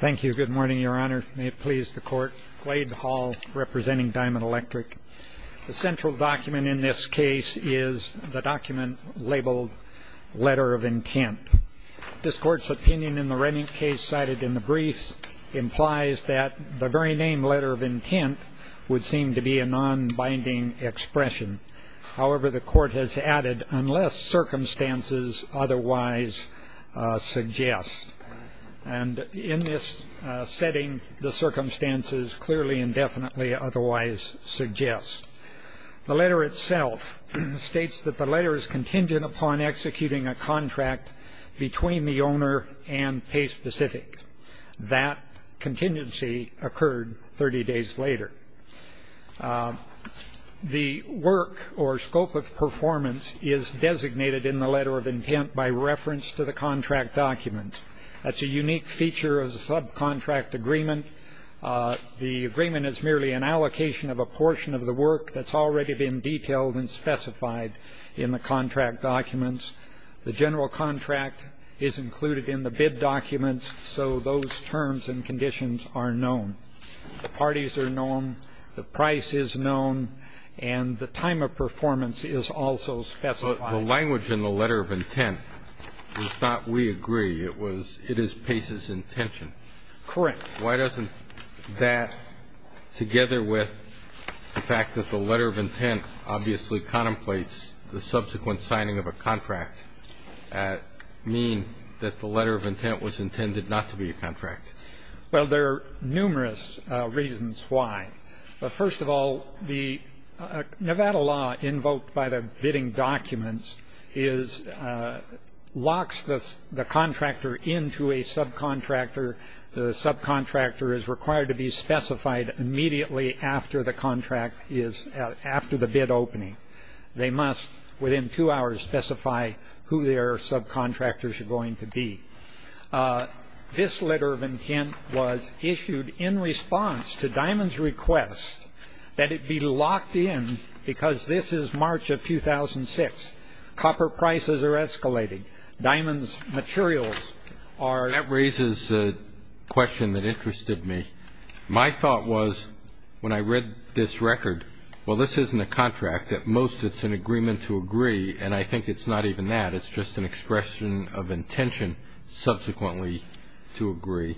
Thank you. Good morning, Your Honor. May it please the Court. Wade Hall, representing Diamond Electric. The central document in this case is the document labeled, Letter of Intent. This Court's opinion in the Rennick case cited in the brief implies that the very name, Letter of Intent, would seem to be a non-binding expression. However, the Court has added, unless circumstances otherwise suggest. And in this setting, the circumstances clearly and definitely otherwise suggest. The letter itself states that the letter is contingent upon executing a contract between the owner and Pace Pacific. That contingency occurred 30 days later. The work or scope of performance is designated in the Letter of Intent by reference to the contract document. That's a unique feature of the subcontract agreement. The agreement is merely an allocation of a portion of the work that's already been detailed and specified in the contract documents. The general contract is included in the bid documents, so those terms and conditions are known. The parties are known, the price is known, and the time of performance is also specified. The language in the Letter of Intent was not, we agree, it was, it is Pace's intention. Correct. Why doesn't that, together with the fact that the Letter of Intent obviously contemplates the subsequent signing of a contract, mean that the Letter of Intent was intended not to be a contract? Well, there are numerous reasons why. But first of all, the Nevada law invoked by the bidding documents is, locks the contractor into a subcontractor. The subcontractor is required to be specified immediately after the contract is, after the bid opening. They must, within two hours, specify who their subcontractors are going to be. This Letter of Intent was issued in response to Diamond's request that it be locked in, because this is March of 2006. Copper prices are escalating. Diamond's materials are... My thought was, when I read this record, well, this isn't a contract. At most, it's an agreement to agree, and I think it's not even that. It's just an expression of intention, subsequently, to agree.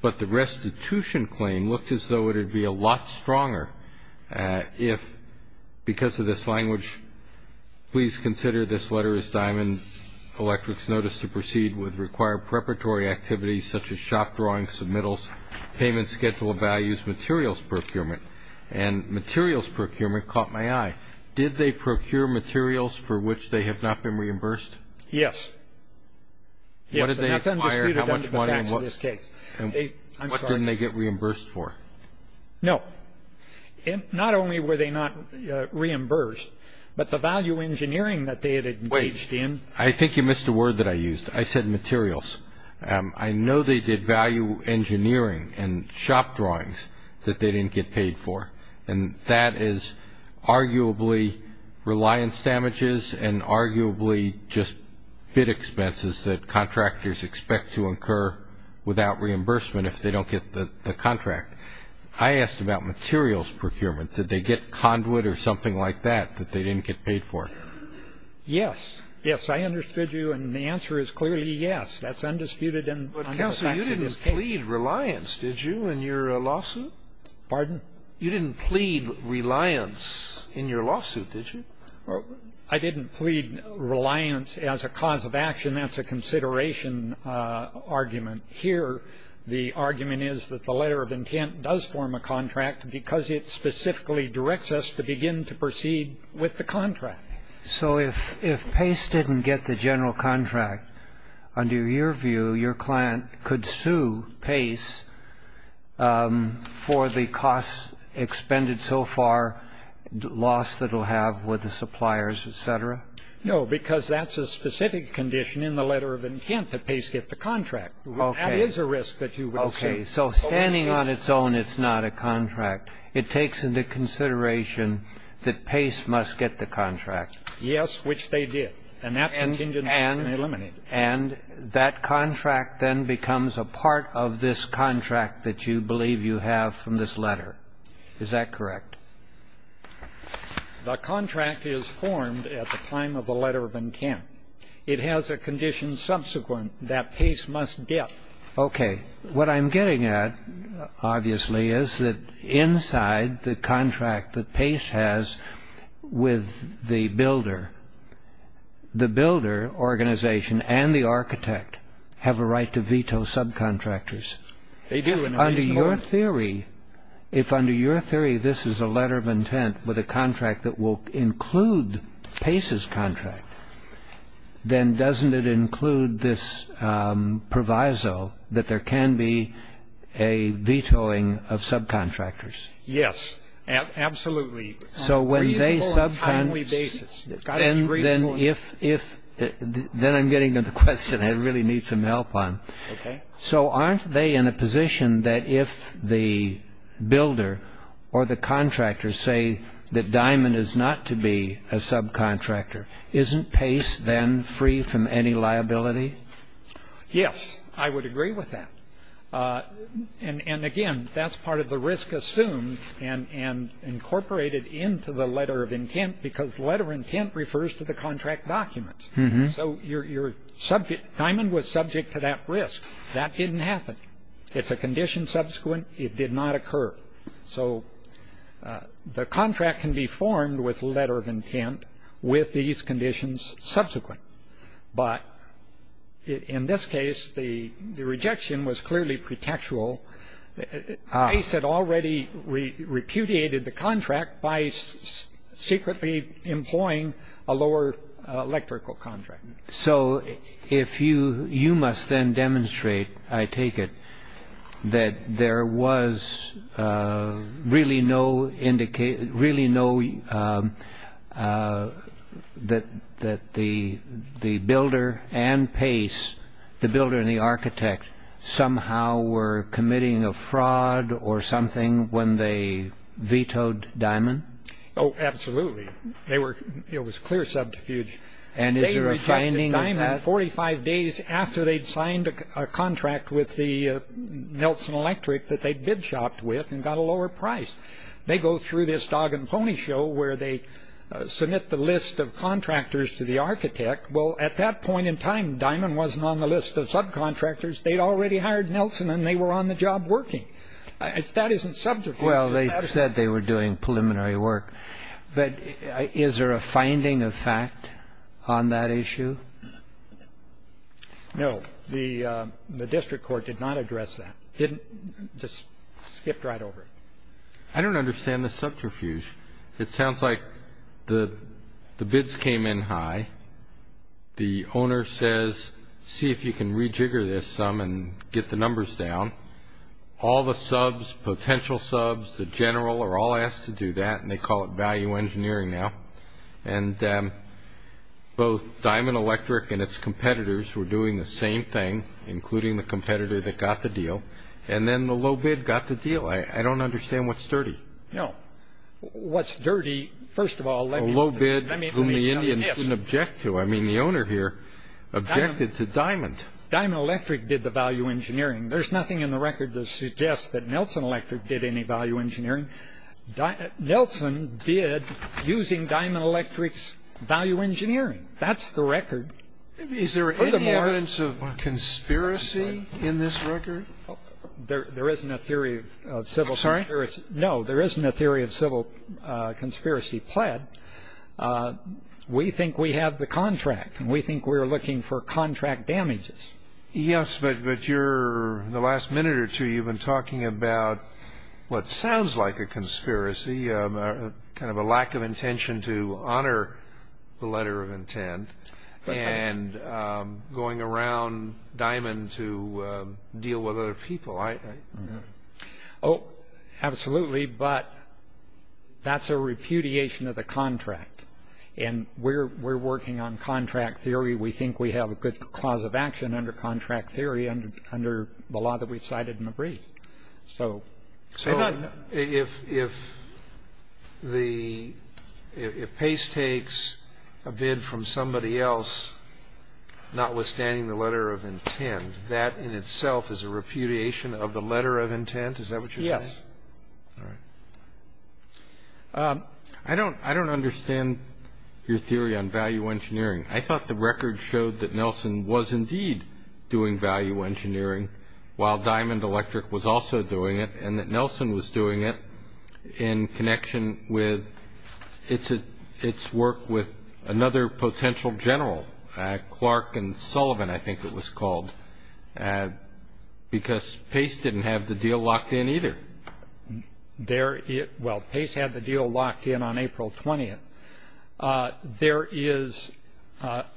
But the restitution claim looked as though it would be a lot stronger if, because of this language, please consider this letter as Diamond Electric's notice to proceed with activities such as shop drawings, submittals, payment schedule of values, materials procurement. And materials procurement caught my eye. Did they procure materials for which they have not been reimbursed? Yes. What did they acquire? Yes, and that's undisputed under the facts of this case. And what didn't they get reimbursed for? No. Not only were they not reimbursed, but the value engineering that they had engaged in... I know they did value engineering and shop drawings that they didn't get paid for, and that is arguably reliance damages and arguably just bid expenses that contractors expect to incur without reimbursement if they don't get the contract. I asked about materials procurement. Did they get conduit or something like that that they didn't get paid for? Yes. Yes, I understood you, and the answer is clearly yes. That's undisputed under the facts of this case. But, Counselor, you didn't plead reliance, did you, in your lawsuit? Pardon? You didn't plead reliance in your lawsuit, did you? I didn't plead reliance as a cause of action. That's a consideration argument. Here, the argument is that the letter of intent does form a contract because it specifically directs us to begin to proceed with the contract. So if Pace didn't get the general contract, under your view, your client could sue Pace for the costs expended so far, loss that he'll have with the suppliers, et cetera? No, because that's a specific condition in the letter of intent that Pace get the contract. Okay. That is a risk that you will sue. Okay. So standing on its own, it's not a contract. It takes into consideration that Pace must get the contract. Yes, which they did. And that contingent has been eliminated. And that contract then becomes a part of this contract that you believe you have from this letter. Is that correct? The contract is formed at the time of the letter of intent. It has a condition subsequent that Pace must get. Okay. What I'm getting at, obviously, is that inside the contract that Pace has with the builder, the builder organization and the architect have a right to veto subcontractors. They do. Under your theory, if under your theory this is a letter of intent with a contract that will include Pace's contract, then doesn't it include this proviso that there can be a vetoing of subcontractors? Yes, absolutely. So when they subcontract. On a timely basis. It's got to be reasonable. Then I'm getting to the question I really need some help on. Okay. So aren't they in a position that if the builder or the contractor say that Diamond is not to be a subcontractor, isn't Pace then free from any liability? Yes, I would agree with that. And again, that's part of the risk assumed and incorporated into the letter of intent because letter of intent refers to the contract document. So Diamond was subject to that risk. That didn't happen. It's a condition subsequent. It did not occur. So the contract can be formed with letter of intent with these conditions subsequent. But in this case, the rejection was clearly pretextual. Pace had already repudiated the contract by secretly employing a lower electrical contract. So you must then demonstrate, I take it, that there was really no indication, the builder and the architect somehow were committing a fraud or something when they vetoed Diamond? Oh, absolutely. It was clear subterfuge. And is there a finding of that? They rejected Diamond 45 days after they'd signed a contract with the Nelson Electric that they bid shopped with and got a lower price. They go through this dog and pony show where they submit the list of contractors to the architect. Well, at that point in time, Diamond wasn't on the list of subcontractors. They'd already hired Nelson and they were on the job working. That isn't subterfuge. Well, they said they were doing preliminary work. But is there a finding of fact on that issue? No. The district court did not address that. Just skipped right over it. I don't understand the subterfuge. It sounds like the bids came in high. The owner says, see if you can rejigger this some and get the numbers down. All the subs, potential subs, the general, are all asked to do that, and they call it value engineering now. And both Diamond Electric and its competitors were doing the same thing, including the competitor that got the deal, and then the low bid got the deal. I don't understand what's sturdy. No. What's dirty, first of all, let me tell you this. A low bid whom the Indians didn't object to. I mean, the owner here objected to Diamond. Diamond Electric did the value engineering. There's nothing in the record that suggests that Nelson Electric did any value engineering. Nelson bid using Diamond Electric's value engineering. That's the record. Is there any evidence of conspiracy in this record? There isn't a theory of civil conspiracy. No, there isn't a theory of civil conspiracy pled. We think we have the contract, and we think we're looking for contract damages. Yes, but the last minute or two you've been talking about what sounds like a conspiracy, kind of a lack of intention to honor the letter of intent, and going around Diamond to deal with other people. Oh, absolutely, but that's a repudiation of the contract, and we're working on contract theory. We think we have a good cause of action under contract theory under the law that we've cited in the brief. So if Pace takes a bid from somebody else, notwithstanding the letter of intent, that in itself is a repudiation of the letter of intent? Is that what you're saying? Yes. All right. I don't understand your theory on value engineering. I thought the record showed that Nelson was indeed doing value engineering, while Diamond Electric was also doing it, and that Nelson was doing it in connection with its work with another potential general. Clark and Sullivan, I think it was called, because Pace didn't have the deal locked in either. Well, Pace had the deal locked in on April 20th. There is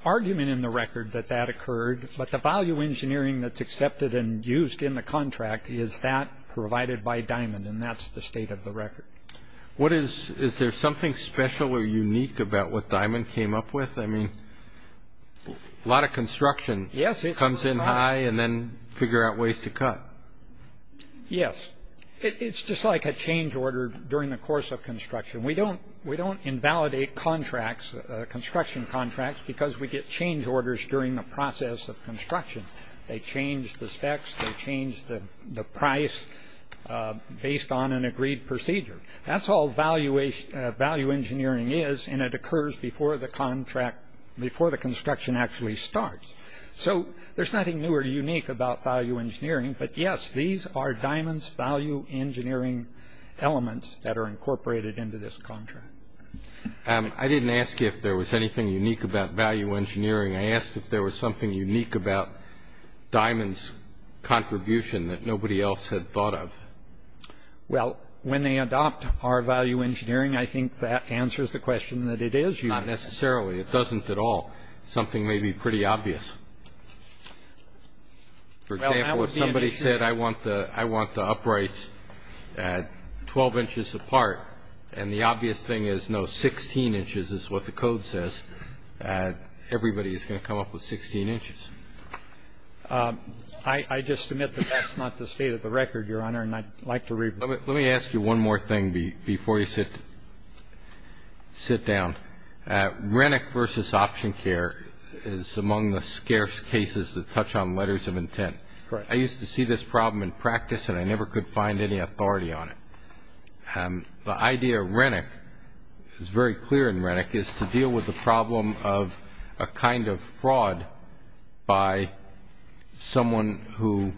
argument in the record that that occurred, but the value engineering that's accepted and used in the contract is that provided by Diamond, and that's the state of the record. Is there something special or unique about what Diamond came up with? I mean, a lot of construction comes in high and then figure out ways to cut. Yes. It's just like a change order during the course of construction. We don't invalidate contracts, construction contracts, because we get change orders during the process of construction. They change the specs. They change the price based on an agreed procedure. That's all value engineering is, and it occurs before the construction actually starts. So there's nothing new or unique about value engineering, but, yes, these are Diamond's value engineering elements that are incorporated into this contract. I didn't ask you if there was anything unique about value engineering. I asked if there was something unique about Diamond's contribution that nobody else had thought of. Well, when they adopt our value engineering, I think that answers the question that it is unique. Not necessarily. It doesn't at all. Something may be pretty obvious. For example, if somebody said, I want the uprights 12 inches apart, and the obvious thing is no, 16 inches is what the code says, everybody is going to come up with 16 inches. I just admit that that's not the state of the record, Your Honor, and I'd like to read. Let me ask you one more thing before you sit down. Renwick versus OptionCare is among the scarce cases that touch on letters of intent. I used to see this problem in practice, and I never could find any authority on it. The idea of Renwick is very clear in Renwick, is to deal with the problem of a kind of fraud by someone who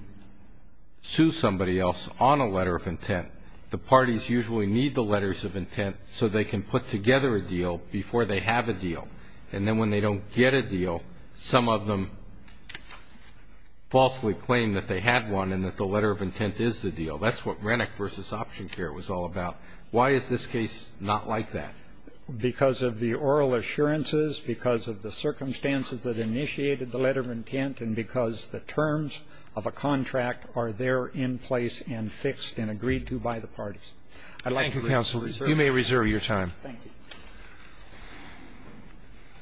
sues somebody else on a letter of intent. The parties usually need the letters of intent so they can put together a deal before they have a deal. And then when they don't get a deal, some of them falsely claim that they had one So that's what Renwick versus OptionCare was all about. Why is this case not like that? Because of the oral assurances, because of the circumstances that initiated the letter of intent, and because the terms of a contract are there in place and fixed and agreed to by the parties. Thank you, counsel. You may reserve your time. Thank you.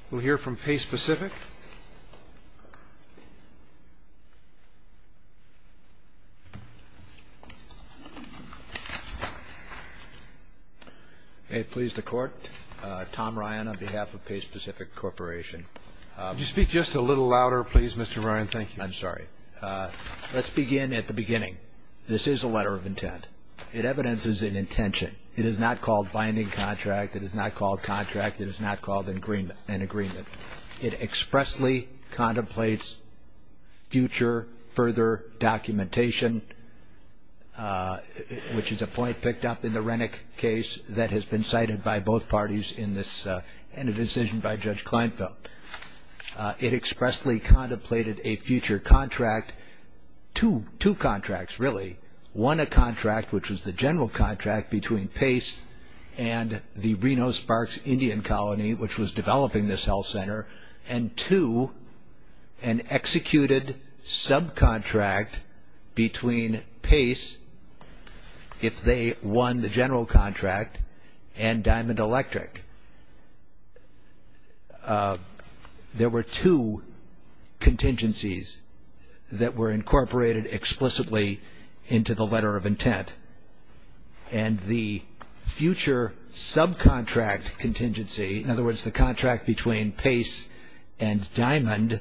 We'll hear from Pace Pacific. May it please the Court, Tom Ryan on behalf of Pace Pacific Corporation. Could you speak just a little louder, please, Mr. Ryan? Thank you. I'm sorry. Let's begin at the beginning. This is a letter of intent. It evidences an intention. It is not called binding contract. It is not called contract. It is not called an agreement. It expressly contemplates future further documentation, which is a point picked up in the Renwick case that has been cited by both parties in this and a decision by Judge Kleinfeld. It expressly contemplated a future contract. Two contracts, really. One, a contract, which was the general contract, between Pace and the Reno-Sparks Indian Colony, which was developing this health center, and two, an executed subcontract between Pace, if they won the general contract, and Diamond Electric. There were two contingencies that were incorporated explicitly into the letter of intent, and the future subcontract contingency, in other words, the contract between Pace and Diamond,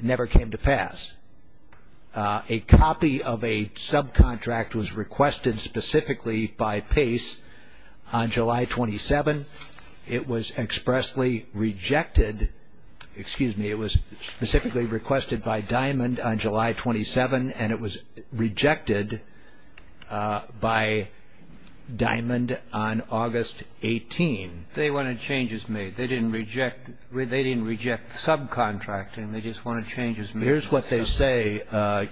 never came to pass. A copy of a subcontract was requested specifically by Pace on July 27. It was expressly rejected. Excuse me, it was specifically requested by Diamond on July 27, and it was rejected by Diamond on August 18. They wanted changes made. They didn't reject the subcontract, and they just wanted changes made. Here's what they say,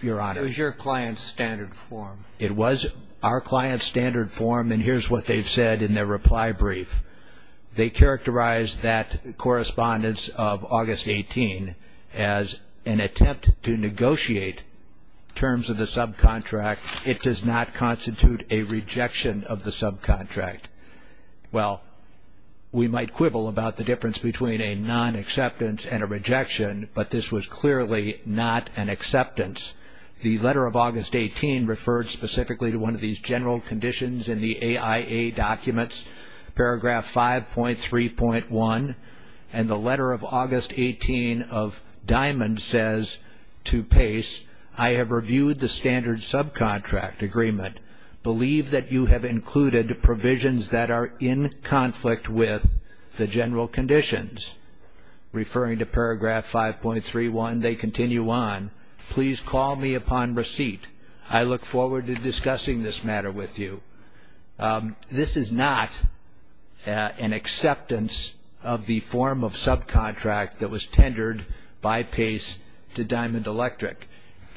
Your Honor. It was your client's standard form. It was our client's standard form, and here's what they've said in their reply brief. They characterized that correspondence of August 18 as an attempt to negotiate terms of the subcontract. It does not constitute a rejection of the subcontract. Well, we might quibble about the difference between a nonacceptance and a rejection, but this was clearly not an acceptance. The letter of August 18 referred specifically to one of these general conditions in the AIA documents, paragraph 5.3.1, and the letter of August 18 of Diamond says to Pace, I have reviewed the standard subcontract agreement. Believe that you have included provisions that are in conflict with the general conditions. Referring to paragraph 5.3.1, they continue on. Please call me upon receipt. I look forward to discussing this matter with you. This is not an acceptance of the form of subcontract that was tendered by Pace to Diamond Electric,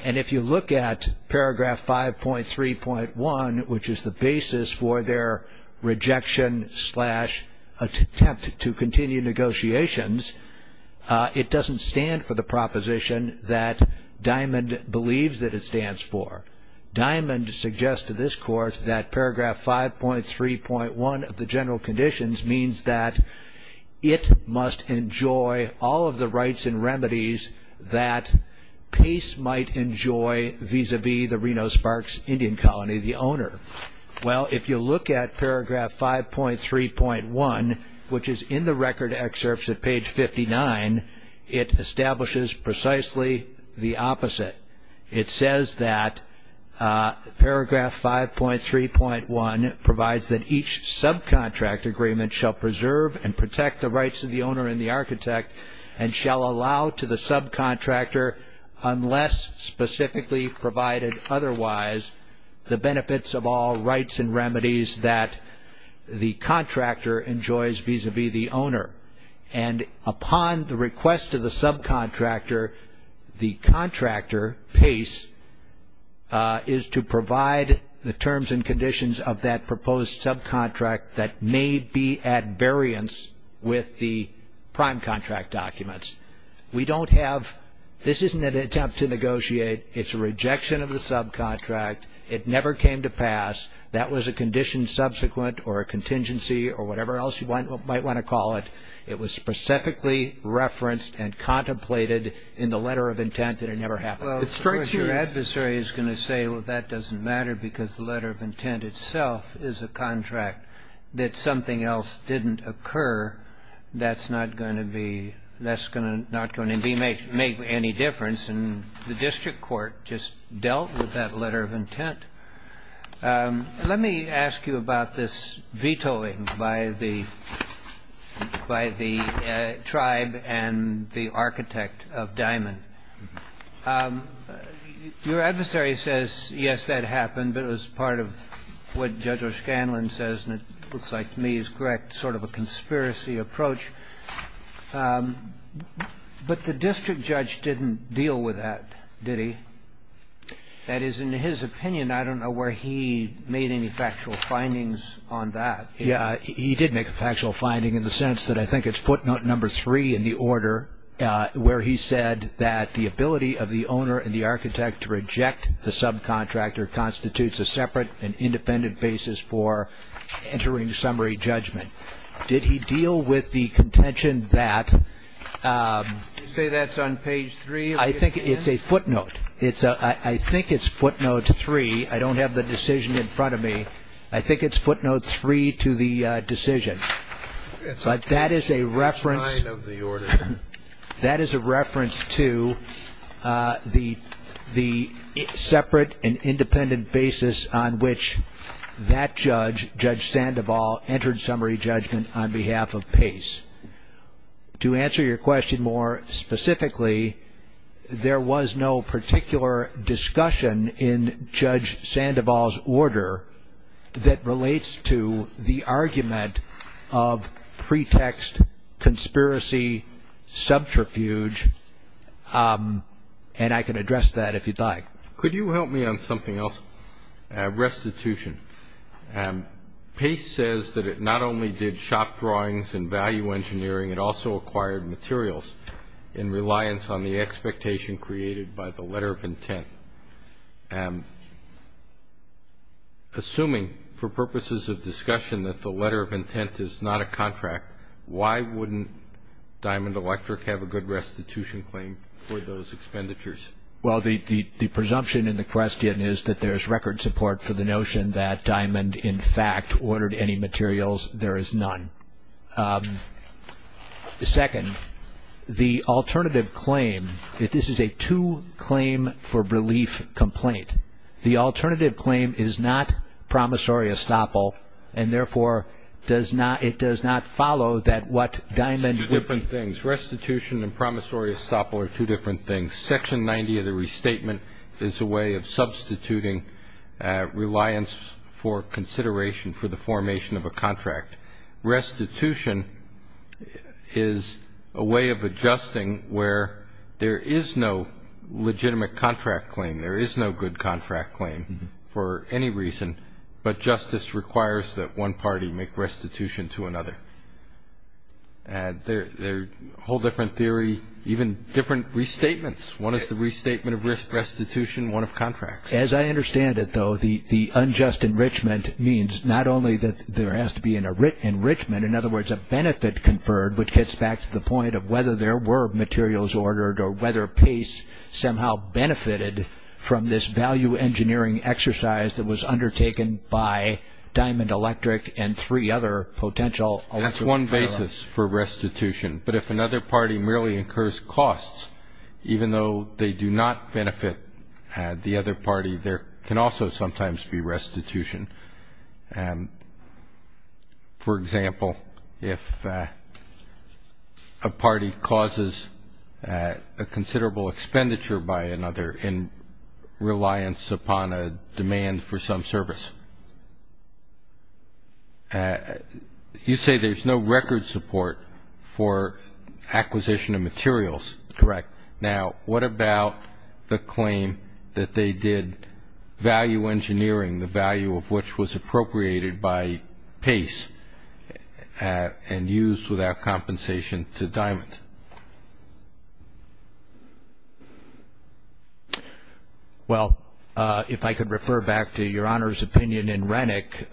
and if you look at paragraph 5.3.1, which is the basis for their rejection slash attempt to continue negotiations, it doesn't stand for the proposition that Diamond believes that it stands for. Diamond suggests to this court that paragraph 5.3.1 of the general conditions means that it must enjoy all of the rights and remedies that Pace might enjoy vis-à-vis the Reno-Sparks Indian Colony, the owner. Well, if you look at paragraph 5.3.1, which is in the record excerpts at page 59, it establishes precisely the opposite. It says that paragraph 5.3.1 provides that each subcontract agreement shall preserve and protect the rights of the owner and the architect, and shall allow to the subcontractor unless specifically provided otherwise, the benefits of all rights and remedies that the contractor enjoys vis-à-vis the owner. And upon the request of the subcontractor, the contractor, Pace, is to provide the terms and conditions of that proposed subcontract that may be at variance with the prime contract documents. We don't have, this isn't an attempt to negotiate, it's a rejection of the subcontract. It never came to pass. That was a condition subsequent or a contingency or whatever else you might want to call it. It was specifically referenced and contemplated in the letter of intent, and it never happened. Well, of course, your adversary is going to say, well, that doesn't matter because the letter of intent itself is a contract that something else didn't occur, that's not going to be, that's not going to make any difference. And the district court just dealt with that letter of intent. Let me ask you about this vetoing by the tribe and the architect of Diamond. Your adversary says, yes, that happened, but it was part of what Judge O'Scanlan says, and it looks like to me is correct, sort of a conspiracy approach. But the district judge didn't deal with that, did he? That is, in his opinion, I don't know where he made any factual findings on that. Yeah, he did make a factual finding in the sense that I think it's footnote number three in the order where he said that the ability of the owner and the architect to reject the subcontractor constitutes a separate and independent basis for entering summary judgment. Did he deal with the contention that you say that's on page three? I think it's a footnote. I think it's footnote three. I don't have the decision in front of me. I think it's footnote three to the decision. But that is a reference to the separate and independent basis on which that judge, Judge Sandoval, entered summary judgment on behalf of Pace. To answer your question more specifically, there was no particular discussion in Judge Sandoval's order that relates to the argument of pretext, conspiracy, subterfuge, and I can address that if you'd like. Could you help me on something else? Restitution. Pace says that it not only did shop drawings and value engineering, it also acquired materials in reliance on the expectation created by the letter of intent. Assuming for purposes of discussion that the letter of intent is not a contract, why wouldn't Diamond Electric have a good restitution claim for those expenditures? Well, the presumption in the question is that there's record support for the notion that Diamond, in fact, ordered any materials. There is none. Second, the alternative claim, this is a two-claim-for-relief complaint. The alternative claim is not promissory estoppel, and therefore it does not follow that what Diamond did. It's two different things. Restitution and promissory estoppel are two different things. Section 90 of the restatement is a way of substituting reliance for consideration for the formation of a contract. Restitution is a way of adjusting where there is no legitimate contract claim, there is no good contract claim for any reason, but justice requires that one party make restitution to another. They're a whole different theory, even different restatements. One is the restatement of restitution, one of contracts. As I understand it, though, the unjust enrichment means not only that there has to be an enrichment, in other words, a benefit conferred, which gets back to the point of whether there were materials ordered or whether Pace somehow benefited from this value engineering exercise that was undertaken by Diamond Electric and three other potential alternative firms. That's one basis for restitution. But if another party merely incurs costs, even though they do not benefit the other party, there can also sometimes be restitution. For example, if a party causes a considerable expenditure by another in reliance upon a demand for some service, you say there's no record support for acquisition of materials. Correct. Now, what about the claim that they did value engineering, the value of which was appropriated by Pace and used without compensation to Diamond? Well, if I could refer back to Your Honor's opinion in Rennick,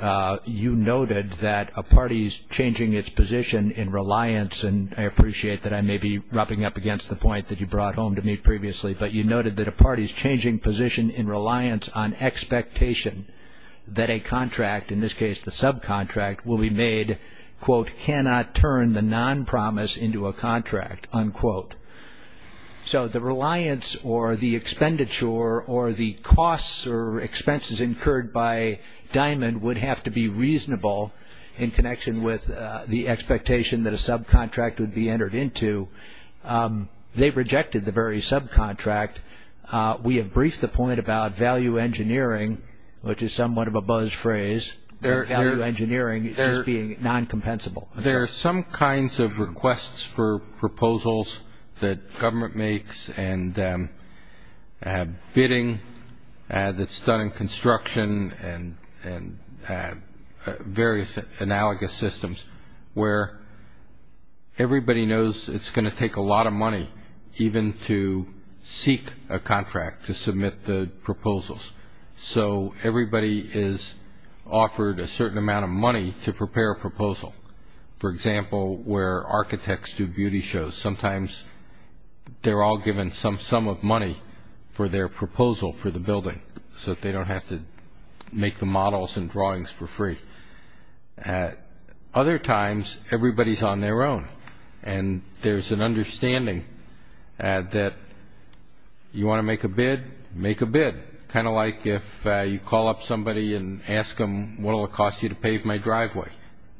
you noted that a party's changing its position in reliance, and I appreciate that I may be rubbing up against the point that you brought home to me previously, but you noted that a party's changing position in reliance on expectation that a contract, in this case the subcontract, will be made, quote, cannot turn the non-promise into a contract, unquote. So the reliance or the expenditure or the costs or expenses incurred by Diamond would have to be reasonable in connection with the expectation that a subcontract would be entered into. They rejected the very subcontract. We have briefed the point about value engineering, which is somewhat of a buzz phrase, value engineering as being non-compensable. There are some kinds of requests for proposals that government makes and bidding that's done in construction and various analogous systems where everybody knows it's going to take a lot of money even to seek a contract to submit the proposals. So everybody is offered a certain amount of money to prepare a proposal. For example, where architects do beauty shows, sometimes they're all given some sum of money for their proposal for the building so that they don't have to make the models and drawings for free. Other times, everybody's on their own, and there's an understanding that you want to make a bid, make a bid. Kind of like if you call up somebody and ask them, what will it cost you to pave my driveway?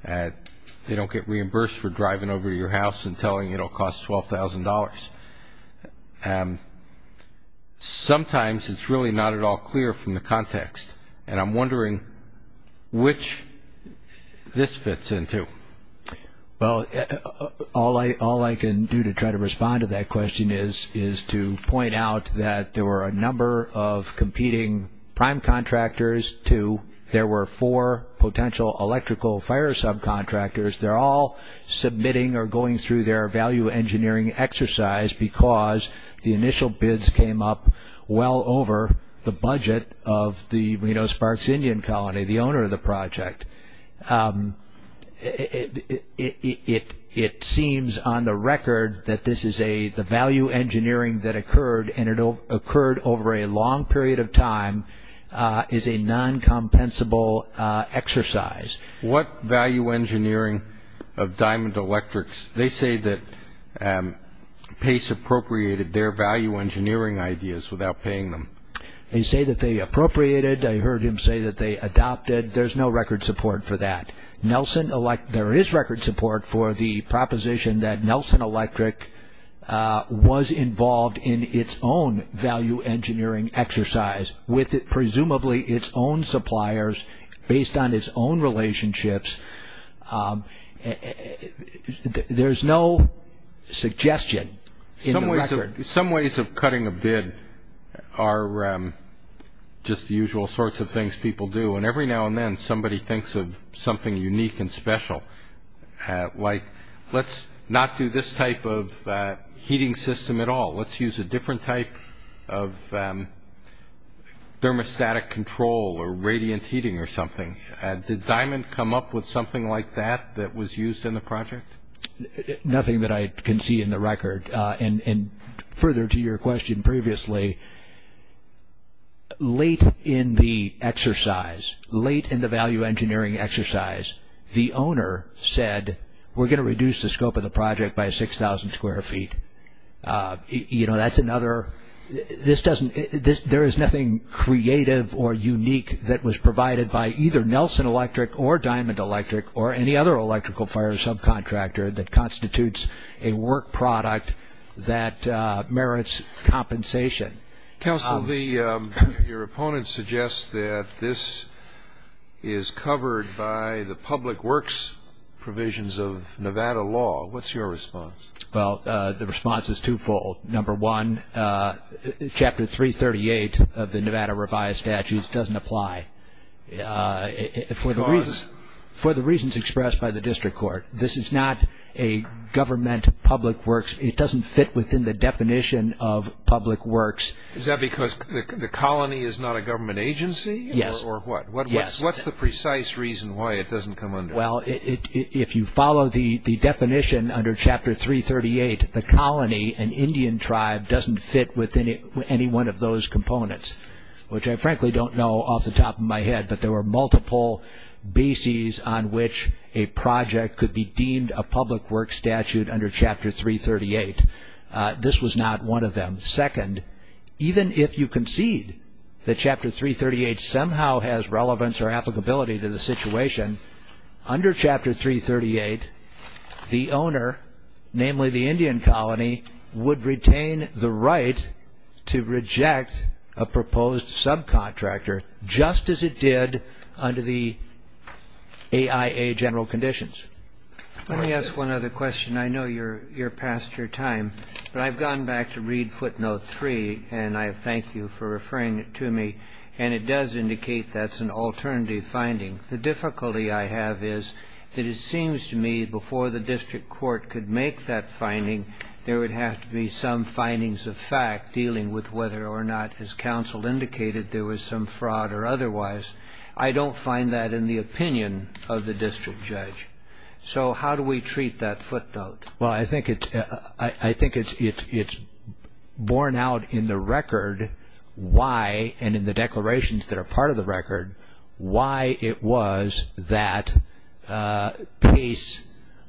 They don't get reimbursed for driving over to your house and telling you it will cost $12,000. Sometimes it's really not at all clear from the context, and I'm wondering which this fits into. Well, all I can do to try to respond to that question is to point out that there were a number of competing prime contractors. There were four potential electrical fire subcontractors. They're all submitting or going through their value engineering exercise because the initial bids came up well over the budget of the Reno-Sparks Indian Colony, the owner of the project. It seems on the record that the value engineering that occurred, and it occurred over a long period of time, is a non-compensable exercise. What value engineering of Diamond Electrics? They say that Pace appropriated their value engineering ideas without paying them. They say that they appropriated. I heard him say that they adopted. There's no record support for that. There is record support for the proposition that Nelson Electric was involved in its own value engineering exercise with presumably its own suppliers based on its own relationships. There's no suggestion in the record. Some ways of cutting a bid are just the usual sorts of things people do, and every now and then somebody thinks of something unique and special, like let's not do this type of heating system at all. Let's use a different type of thermostatic control or radiant heating or something. Did Diamond come up with something like that that was used in the project? Nothing that I can see in the record. Further to your question previously, late in the exercise, late in the value engineering exercise, the owner said we're going to reduce the scope of the project by 6,000 square feet. There is nothing creative or unique that was provided by either Nelson Electric or Diamond Electric or any other electrical fire subcontractor that constitutes a work product that merits compensation. Counsel, your opponent suggests that this is covered by the public works provisions of Nevada law. What's your response? Well, the response is twofold. Number one, Chapter 338 of the Nevada Revised Statutes doesn't apply. Because? For the reasons expressed by the district court. This is not a government public works. It doesn't fit within the definition of public works. Is that because the colony is not a government agency? Yes. Or what? What's the precise reason why it doesn't come under it? Well, if you follow the definition under Chapter 338, the colony, an Indian tribe, doesn't fit within any one of those components, which I frankly don't know off the top of my head, but there were multiple bases on which a project could be deemed a public works statute under Chapter 338. This was not one of them. Second, even if you concede that Chapter 338 somehow has relevance or applicability to the situation, under Chapter 338, the owner, namely the Indian colony, would retain the right to reject a proposed subcontractor, just as it did under the AIA general conditions. Let me ask one other question. I know you're past your time, but I've gone back to Read Footnote 3, and I thank you for referring it to me, and it does indicate that's an alternative finding. The difficulty I have is that it seems to me, before the district court could make that finding, there would have to be some findings of fact dealing with whether or not, as counsel indicated, there was some fraud or otherwise. I don't find that in the opinion of the district judge. So how do we treat that footnote? Well, I think it's borne out in the record why, and in the declarations that are part of the record, why it was that Pace,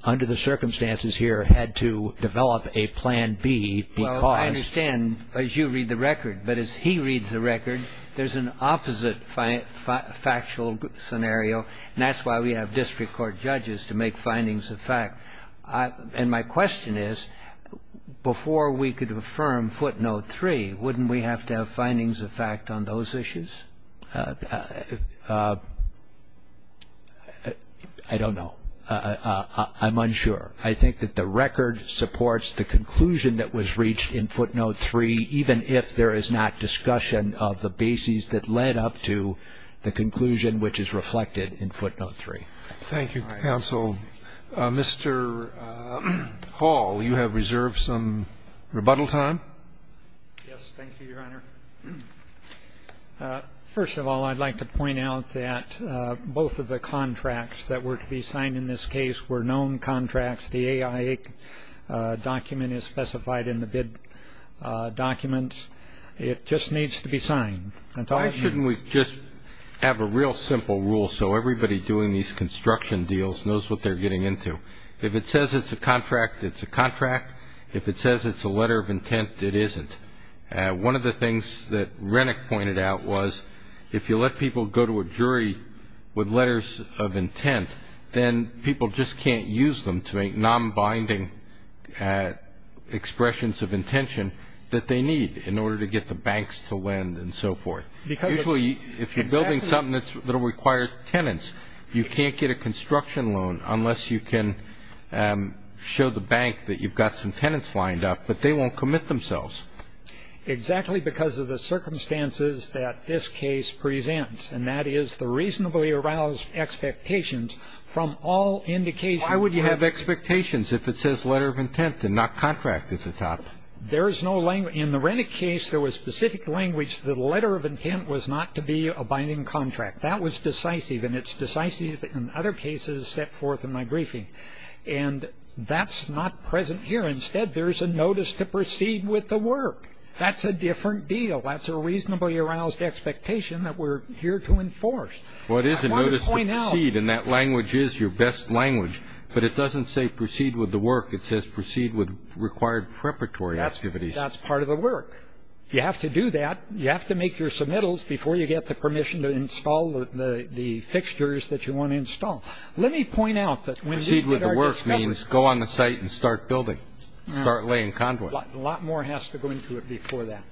under the circumstances here, had to develop a Plan B because. Well, I understand, as you read the record. But as he reads the record, there's an opposite factual scenario, and that's why we have district court judges to make findings of fact. And my question is, before we could affirm Footnote 3, wouldn't we have to have findings of fact on those issues? I don't know. I'm unsure. I think that the record supports the conclusion that was reached in Footnote 3, even if there is not discussion of the bases that led up to the conclusion which is reflected in Footnote 3. Thank you, counsel. Mr. Hall, you have reserved some rebuttal time. Yes, thank you, Your Honor. First of all, I'd like to point out that both of the contracts that were to be signed in this case were known contracts. The AI document is specified in the bid document. It just needs to be signed. Why shouldn't we just have a real simple rule so everybody doing these construction deals knows what they're getting into? If it says it's a contract, it's a contract. If it says it's a letter of intent, it isn't. One of the things that Rennick pointed out was if you let people go to a jury with letters of intent, then people just can't use them to make non-binding expressions of intention that they need in order to get the banks to lend and so forth. Usually, if you're building something that will require tenants, you can't get a construction loan unless you can show the bank that you've got some tenants lined up, but they won't commit themselves. Exactly because of the circumstances that this case presents, and that is the reasonably aroused expectations from all indications. Why would you have expectations if it says letter of intent and not contract at the top? In the Rennick case, there was specific language. The letter of intent was not to be a binding contract. That was decisive, and it's decisive in other cases set forth in my briefing. And that's not present here. Instead, there's a notice to proceed with the work. That's a different deal. That's a reasonably aroused expectation that we're here to enforce. Well, it is a notice to proceed, and that language is your best language, but it doesn't say proceed with the work. It says proceed with required preparatory activities. That's part of the work. You have to do that. You have to make your submittals before you get the permission to install the fixtures that you want to install. Proceed with the work means go on the site and start building, start laying conduit. A lot more has to go into it before that.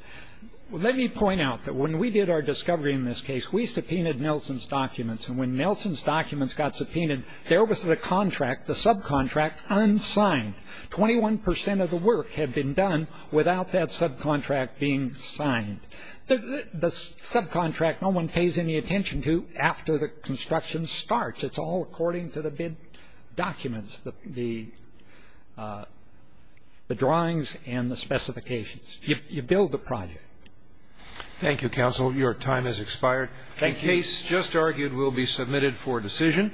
Let me point out that when we did our discovery in this case, we subpoenaed Nelson's documents, and when Nelson's documents got subpoenaed, there was the contract, the subcontract, unsigned. Twenty-one percent of the work had been done without that subcontract being signed. The subcontract no one pays any attention to after the construction starts. It's all according to the bid documents, the drawings and the specifications. You build the project. Thank you, counsel. Your time has expired. Thank you. The case just argued will be submitted for decision.